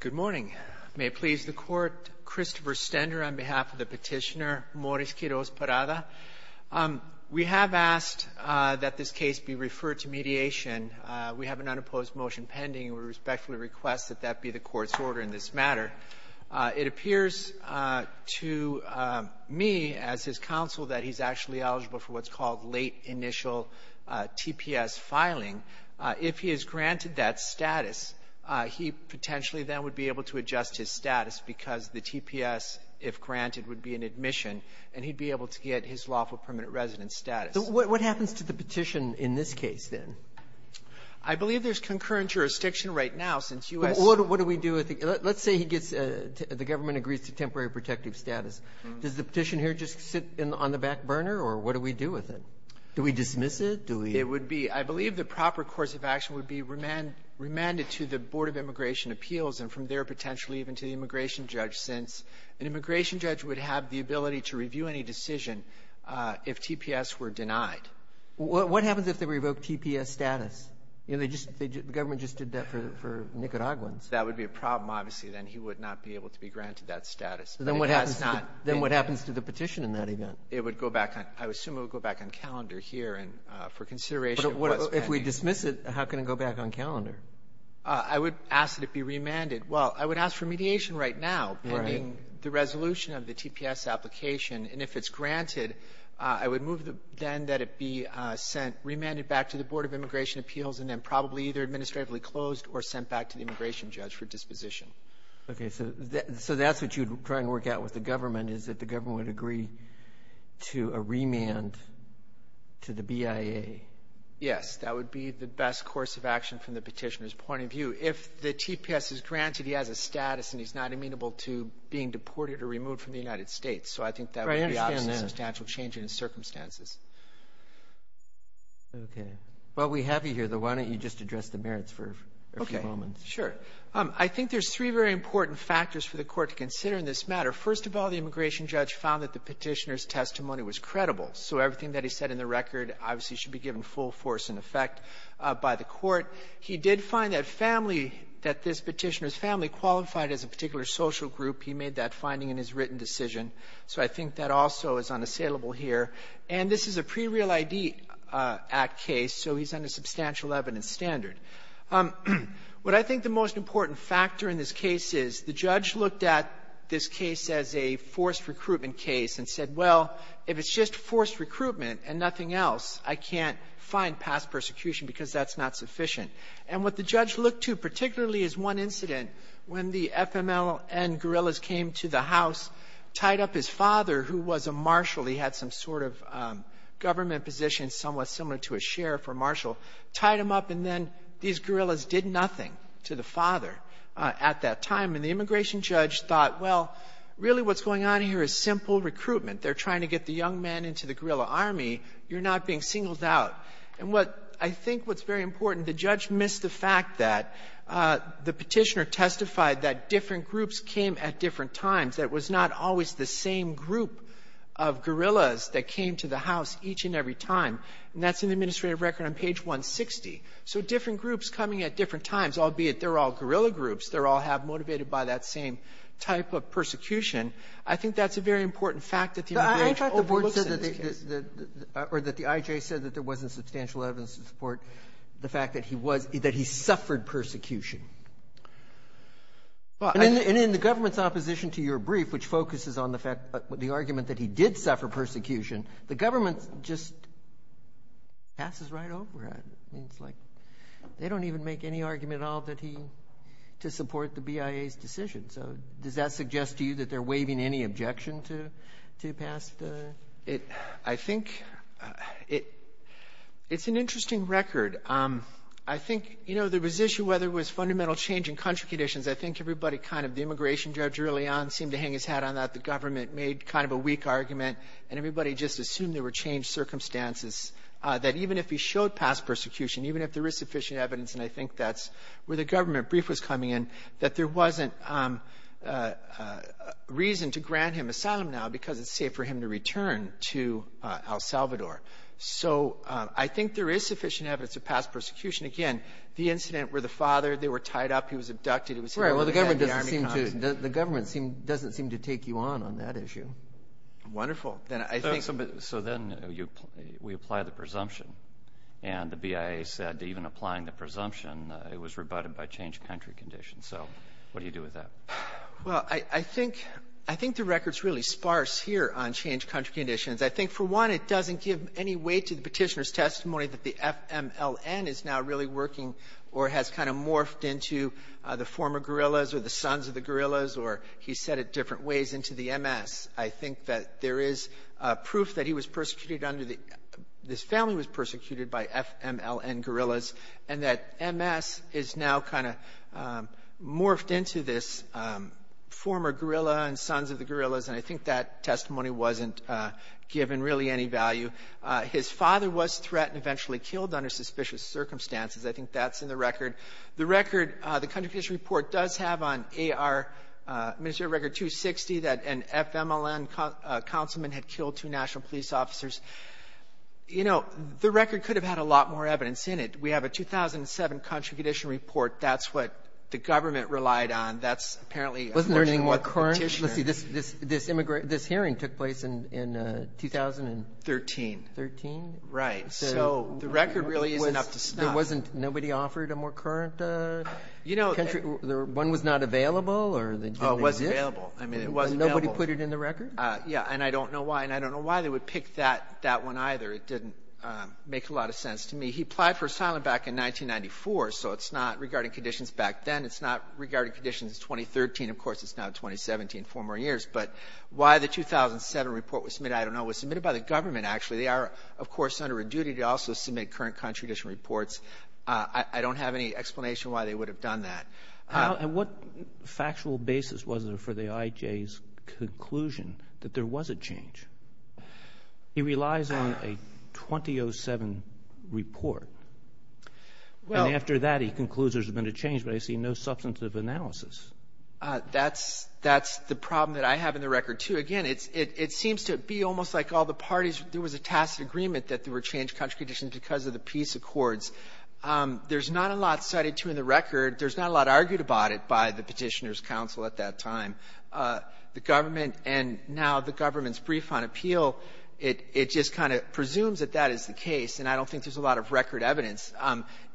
Good morning. May it please the court, Christopher Stender on behalf of the petitioner Moris Quiroz Parada. We have asked that this case be referred to mediation. We have an unopposed motion pending. We respectfully request that that be the court's order in this matter. It appears to me as his counsel that he's actually eligible for what's called late initial TPS filing. If he is granted that status, he potentially then would be able to adjust his status because the TPS, if granted, would be an admission, and he'd be able to get his lawful permanent residence status. What happens to the petition in this case, then? I believe there's concurrent jurisdiction right now since U.S. What do we do with it? Let's say he gets the government agrees to temporary protective status. Does the petition here just sit on the back burner, or what do we do with it? Do we dismiss it? I believe the proper course of action would be remanded to the Board of Immigration Appeals and from there potentially even to the immigration judge since an immigration judge would have the ability to review any decision if TPS were denied. What happens if they revoke TPS status? The government just did that for Nicaraguans. That would be a problem, obviously, then. He would not be able to be granted that status. Then what happens to the petition in that event? It would go back on. I assume it would go back on calendar here and for consideration of what's pending. But if we dismiss it, how can it go back on calendar? I would ask that it be remanded. Well, I would ask for mediation right now pending the resolution of the TPS application. And if it's granted, I would move then that it be sent, remanded back to the Board of Immigration Appeals and then probably either administratively closed or sent back to the immigration judge for disposition. Okay. So that's what you would try and work out with the government, is that the government would agree to a remand to the BIA? Yes, that would be the best course of action from the petitioner's point of view. If the TPS is granted, he has a status and he's not amenable to being deported or removed from the United States. So I think that would be a substantial change in his circumstances. Okay. Well, we have you here, though. Why don't you just address the merits for a few moments? Okay, sure. I think there's three very important factors for the court to consider in this matter. First of all, the immigration judge found that the petitioner's testimony was credible. So everything that he said in the record obviously should be given full force and effect by the court. He did find that family, that this petitioner's family qualified as a particular social group. He made that finding in his written decision. So I think that also is unassailable here. And this is a pre-Real ID Act case, so he's under substantial evidence standard. What I think the most important factor in this case is the judge looked at this case as a forced recruitment case and said, well, if it's just forced recruitment and nothing else, I can't find past persecution because that's not sufficient. And what the judge looked to, particularly as one incident, when the FMLN guerrillas came to the house, tied up his father, who was a marshal. He had some sort of government position, somewhat similar to a sheriff or marshal. Tied him up, and then these guerrillas did nothing to the father at that time. And the immigration judge thought, well, really what's going on here is simple recruitment. They're trying to get the young men into the guerrilla army. You're not being singled out. And what I think what's very important, the judge missed the fact that the petitioner testified that different groups came at different times, that it was not always the same group of guerrillas that came to the house each and every time. And that's in the administrative record on page 160. So different groups coming at different times, albeit they're all guerrilla groups, they're all motivated by that same type of persecution, I think that's a very important fact that the immigration overlooked in this case. Roberts. Or that the IJ said that there wasn't substantial evidence to support the fact that he was here, that he suffered persecution. And in the government's opposition to your brief, which focuses on the fact, the argument that he did suffer persecution, the government just passes right over it. It's like they don't even make any argument at all that he, to support the BIA's decision. So does that suggest to you that they're waiving any objection to pass the? I think it's an interesting record. I think, you know, there was issue whether it was fundamental change in country conditions. I think everybody kind of, the immigration judge early on seemed to hang his hat on that. The government made kind of a weak argument. And everybody just assumed there were changed circumstances, that even if he showed past persecution, even if there is sufficient evidence, and I think that's where the government brief was coming in, that there wasn't reason to grant him asylum now because it's safe for him to return to El Salvador. So I think there is sufficient evidence of past persecution. Again, the incident where the father, they were tied up, he was abducted. Right. Well, the government doesn't seem to take you on on that issue. Wonderful. So then we apply the presumption. And the BIA said even applying the presumption, it was rebutted by changed country conditions. So what do you do with that? Well, I think the record's really sparse here on changed country conditions. I think, for one, it doesn't give any weight to the petitioner's testimony that the FMLN is now really working or has kind of morphed into the former guerrillas or the sons of the guerrillas, or he said it different ways, into the MS. I think that there is proof that he was persecuted under the — this family was persecuted by FMLN guerrillas, and that MS is now kind of morphed into this former guerrilla and sons of the guerrillas. And I think that testimony wasn't given really any value. His father was threatened, eventually killed under suspicious circumstances. I think that's in the record. The record, the country condition report, does have on AR, Administrative Record 260, that an FMLN councilman had killed two national police officers. You know, the record could have had a lot more evidence in it. We have a 2007 country condition report. That's what the government relied on. That's apparently a more current petitioner. This hearing took place in 2013. Right. So the record really is enough to stop. Nobody offered a more current country? One was not available? It wasn't available. Nobody put it in the record? Yeah, and I don't know why. And I don't know why they would pick that one either. It didn't make a lot of sense to me. He applied for asylum back in 1994, so it's not regarding conditions back then. It's not regarding conditions in 2013. Of course, it's now 2017, four more years. But why the 2007 report was submitted, I don't know. It was submitted by the government, actually. They are, of course, under a duty to also submit current country condition reports. I don't have any explanation why they would have done that. And what factual basis was there for the IJ's conclusion that there was a change? He relies on a 2007 report. And after that, he concludes there's been a change, but I see no substantive analysis. That's the problem that I have in the record, too. Again, it seems to be almost like all the parties, there was a tacit agreement that there were changed country conditions because of the peace accords. There's not a lot cited, too, in the record. There's not a lot argued about it by the Petitioner's Council at that time. The government and now the government's brief on appeal, it just kind of presumes that that is the case. And I don't think there's a lot of record evidence.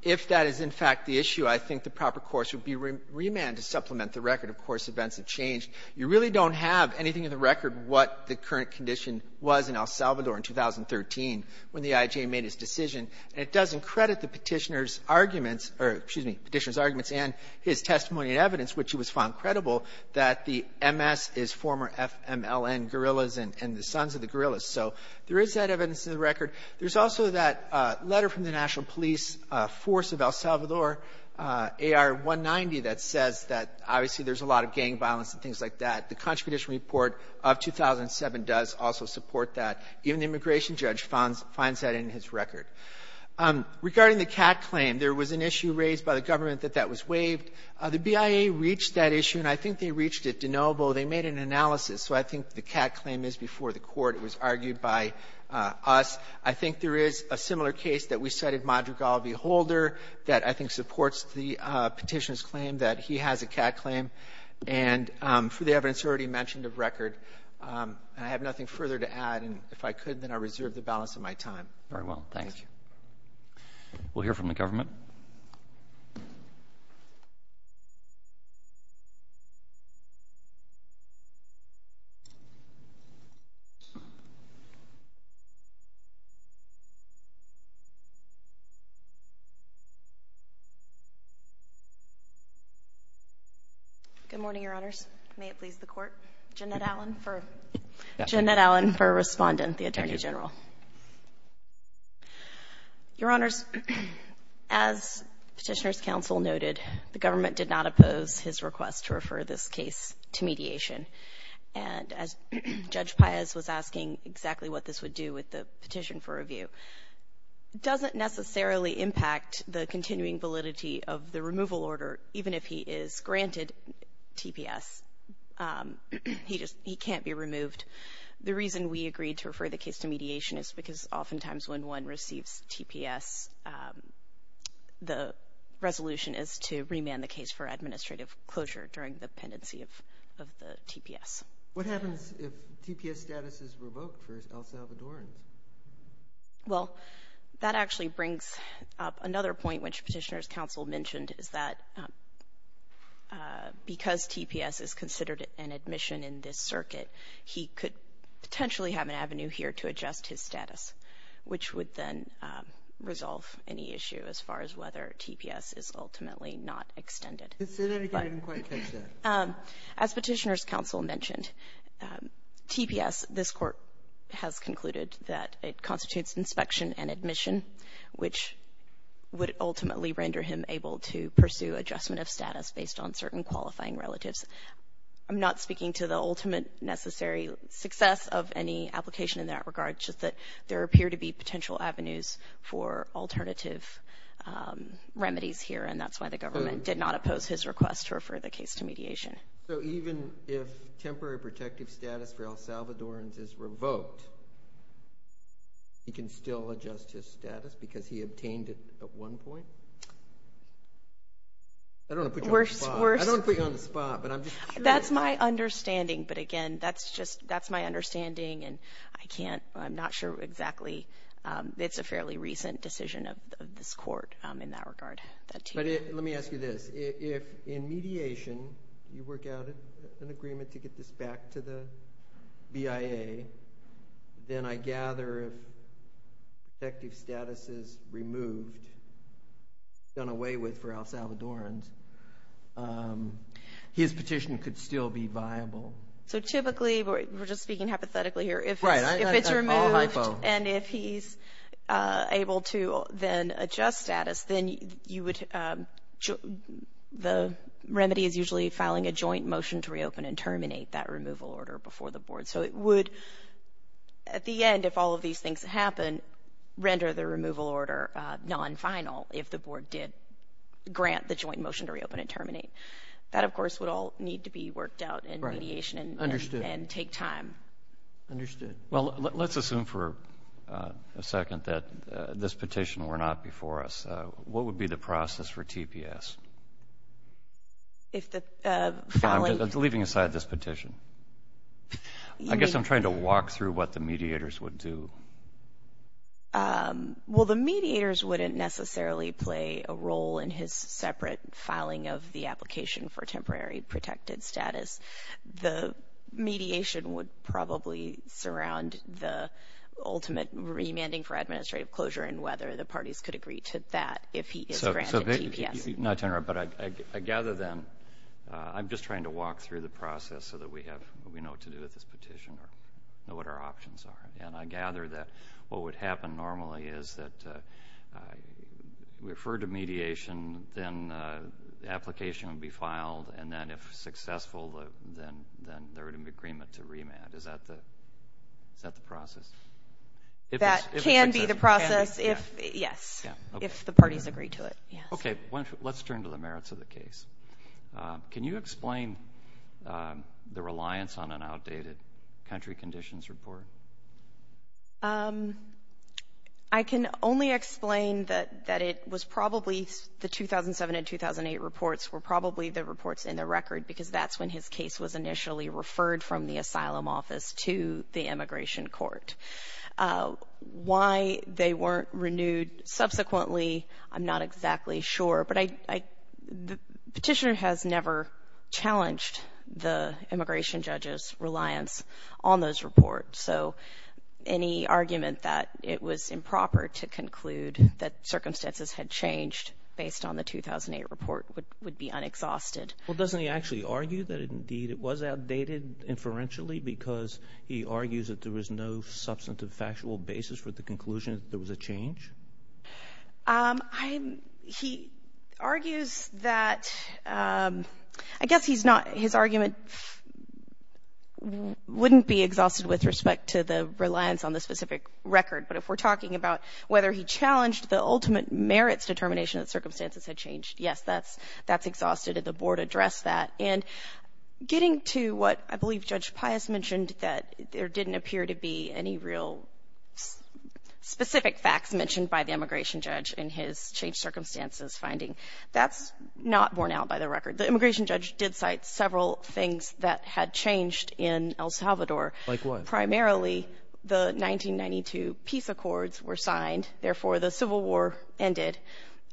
If that is, in fact, the issue, I think the proper course would be remand to supplement the record. Of course, events have changed. You really don't have anything in the record what the current condition was in El Salvador in 2013 when the IJ made its decision. And it doesn't credit the Petitioner's arguments or, excuse me, Petitioner's arguments and his testimony and evidence, which he was found credible, that the MS is former FMLN guerrillas and the sons of the guerrillas. So there is that evidence in the record. There's also that letter from the National Police Force of El Salvador, AR-190, that says that obviously there's a lot of gang violence and things like that. The Contradiction Report of 2007 does also support that. Even the immigration judge finds that in his record. Regarding the CAT claim, there was an issue raised by the government that that was waived. The BIA reached that issue, and I think they reached it de novo. They made an analysis. So I think the CAT claim is before the court. It was argued by us. I think there is a similar case that we cited, Madrigal v. Holder, that I think supports the Petitioner's claim that he has a CAT claim. And for the evidence already mentioned of record, I have nothing further to add. And if I could, then I reserve the balance of my time. Roberts. Very well. Thank you. We'll hear from the government. Good morning, Your Honors. May it please the Court. Jeanette Allen for respondent, the Attorney General. Thank you. Your Honors, as Petitioner's counsel noted, the government did not oppose his request to refer this case to mediation. And as Judge Paez was asking exactly what this would do with the petition for review, it doesn't necessarily impact the continuing validity of the removal order, even if he is granted TPS. He just he can't be removed. The reason we agreed to refer the case to mediation is because oftentimes when one receives TPS, the resolution is to remand the case for administrative closure during the pendency of the TPS. What happens if TPS status is revoked for El Salvadoran? Well, that actually brings up another point, which Petitioner's counsel mentioned, is that because TPS is considered an admission in this circuit, he could potentially have an avenue here to adjust his status, which would then resolve any issue as far as whether TPS is ultimately not extended. Is there anything in the question? As Petitioner's counsel mentioned, TPS, this Court has concluded that it constitutes inspection and admission, which would ultimately render him able to pursue adjustment of status based on certain qualifying relatives. I'm not speaking to the ultimate necessary success of any application in that regard, just that there appear to be potential avenues for alternative remedies here, and that's why the government did not oppose his request to refer the case to mediation. So even if temporary protective status for El Salvadorans is revoked, he can still adjust his status because he obtained it at one point? I don't want to put you on the spot. I don't want to put you on the spot, but I'm just curious. That's my understanding, but again, that's just my understanding, and I'm not sure exactly. It's a fairly recent decision of this Court in that regard. Let me ask you this. If in mediation you work out an agreement to get this back to the BIA, then I gather if protective status is removed, done away with for El Salvadorans, his petition could still be viable. So typically, we're just speaking hypothetically here, if it's removed and if he's able to then adjust status, then the remedy is usually filing a joint motion to reopen and terminate that removal order before the Board. So it would, at the end, if all of these things happen, render the removal order non-final if the Board did grant the joint motion to reopen and terminate. That, of course, would all need to be worked out in mediation and take time. Understood. Well, let's assume for a second that this petition were not before us. What would be the process for TPS? I'm leaving aside this petition. I guess I'm trying to walk through what the mediators would do. Well, the mediators wouldn't necessarily play a role in his separate filing of the application for temporary protected status. The mediation would probably surround the ultimate remanding for administrative closure and whether the parties could agree to that if he is granted TPS. Not to interrupt, but I gather then I'm just trying to walk through the process so that we have what we know what to do with this petition or know what our options are. And I gather that what would happen normally is that we refer to mediation, then the application would be filed, and then if successful, then there would be an agreement to remand. Is that the process? That can be the process, yes, if the parties agree to it, yes. Okay. Let's turn to the merits of the case. Can you explain the reliance on an outdated country conditions report? I can only explain that it was probably the 2007 and 2008 reports were probably the reports in the record because that's when his case was initially referred from the asylum office to the immigration court. Why they weren't renewed subsequently I'm not exactly sure, but the petitioner has never challenged the immigration judge's reliance on those reports. So any argument that it was improper to conclude that circumstances had changed based on the 2008 report would be unexhausted. Well, doesn't he actually argue that, indeed, it was outdated inferentially because he argues that there was no substantive factual basis for the conclusion that there was a change? He argues that, I guess he's not, his argument wouldn't be exhausted with respect to the reliance on the specific record, but if we're talking about whether he challenged the ultimate merits determination that circumstances had changed, yes, that's exhausted, and the board addressed that. And getting to what I believe Judge Pius mentioned that there didn't appear to be any real specific facts mentioned by the immigration judge in his changed circumstances finding, that's not borne out by the record. The immigration judge did cite several things that had changed in El Salvador. Like what? Primarily the 1992 peace accords were signed, therefore the Civil War ended,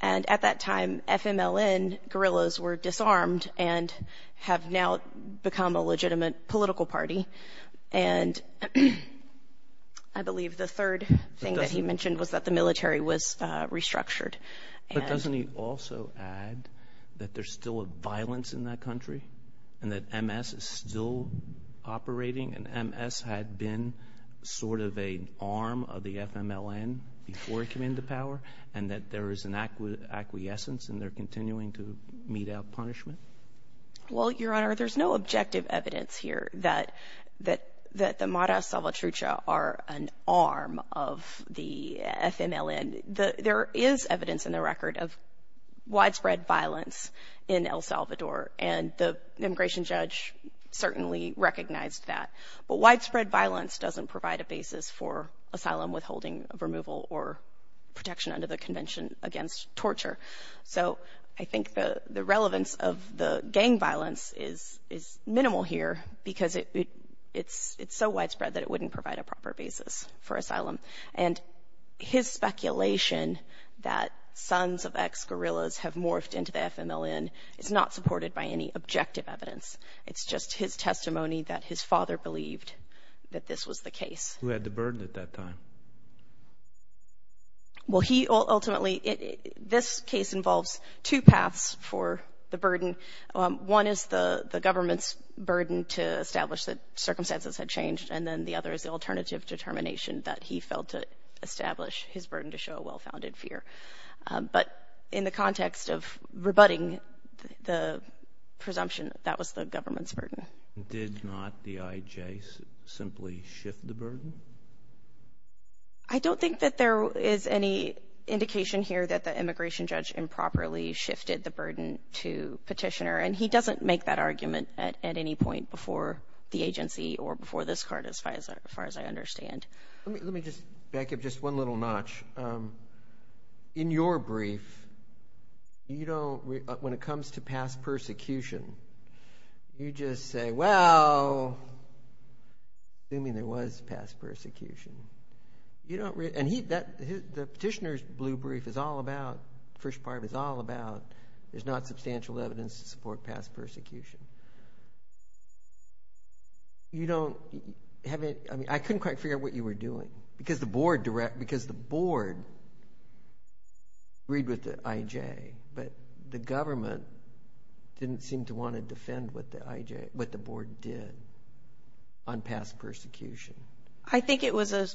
and at that time FMLN guerrillas were disarmed and have now become a legitimate political party. And I believe the third thing that he mentioned was that the military was restructured. But doesn't he also add that there's still a violence in that country and that MS is still operating and MS had been sort of an arm of the FMLN before it came into power and that there is an acquiescence and they're continuing to mete out punishment? Well, Your Honor, there's no objective evidence here that the Mara Salvatrucha are an arm of the FMLN. There is evidence in the record of widespread violence in El Salvador and the immigration judge certainly recognized that. But widespread violence doesn't provide a basis for asylum withholding, removal, or protection under the Convention Against Torture. So I think the relevance of the gang violence is minimal here because it's so widespread that it wouldn't provide a proper basis for asylum. And his speculation that sons of ex-guerrillas have morphed into the FMLN is not supported by any objective evidence. It's just his testimony that his father believed that this was the case. Who had the burden at that time? Well, he ultimately, this case involves two paths for the burden. One is the government's burden to establish that circumstances had changed and then the other is the alternative determination that he felt to establish his burden to show a well-founded fear. But in the context of rebutting the presumption, that was the government's burden. Did not the IJ simply shift the burden? I don't think that there is any indication here that the immigration judge improperly shifted the burden to Petitioner, and he doesn't make that argument at any point before the agency or before this court as far as I understand. Let me just back up just one little notch. In your brief, when it comes to past persecution, you just say, well, assuming there was past persecution, and the Petitioner's blue brief is all about, the first part is all about, there's not substantial evidence to support past persecution. I couldn't quite figure out what you were doing because the board agreed with the IJ, but the government didn't seem to want to defend what the board did on past persecution. I think it was a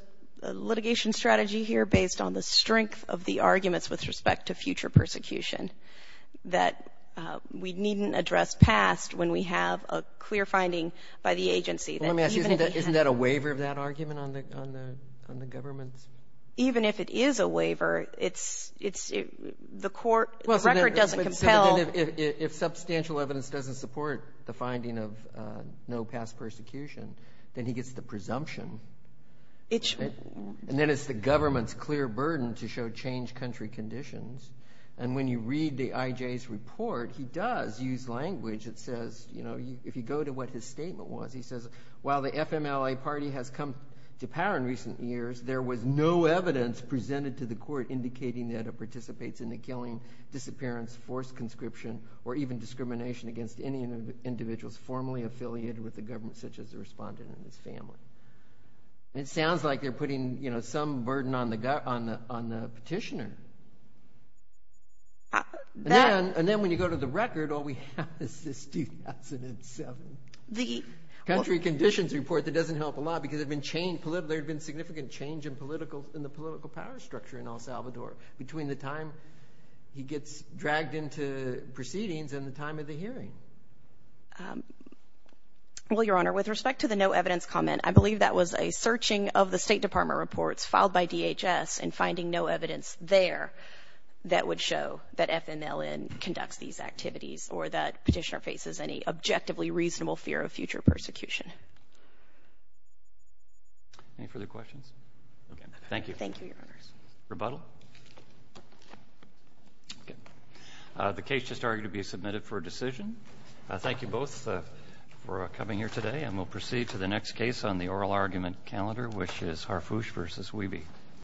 litigation strategy here based on the strength of the arguments with respect to future persecution that we needn't address past when we have a clear finding by the agency. Let me ask you, isn't that a waiver of that argument on the government's? Even if it is a waiver, the record doesn't compel. If substantial evidence doesn't support the finding of no past persecution, then he gets the presumption. And then it's the government's clear burden to show changed country conditions. And when you read the IJ's report, he does use language that says, if you go to what his statement was, he says, while the FMLA party has come to power in recent years, there was no evidence presented to the court indicating that it participates in the killing, disappearance, forced conscription, or even discrimination against any individuals formally affiliated with the government such as the respondent and his family. It sounds like they're putting some burden on the petitioner. And then when you go to the record, all we have is this 2007. Country conditions report that doesn't help a lot because there had been significant change in the political power structure in El Salvador between the time he gets dragged into proceedings and the time of the hearing. Well, Your Honor, with respect to the no evidence comment, I believe that was a searching of the State Department reports filed by DHS and finding no evidence there that would show that FMLN conducts these activities or that petitioner faces any objectively reasonable fear of future persecution. Any further questions? Okay. Thank you. Thank you, Your Honors. Rebuttal? Okay. The case just argued to be submitted for a decision. Thank you both for coming here today, and we'll proceed to the next case on the oral argument calendar, which is Harfouche v. Wiebe.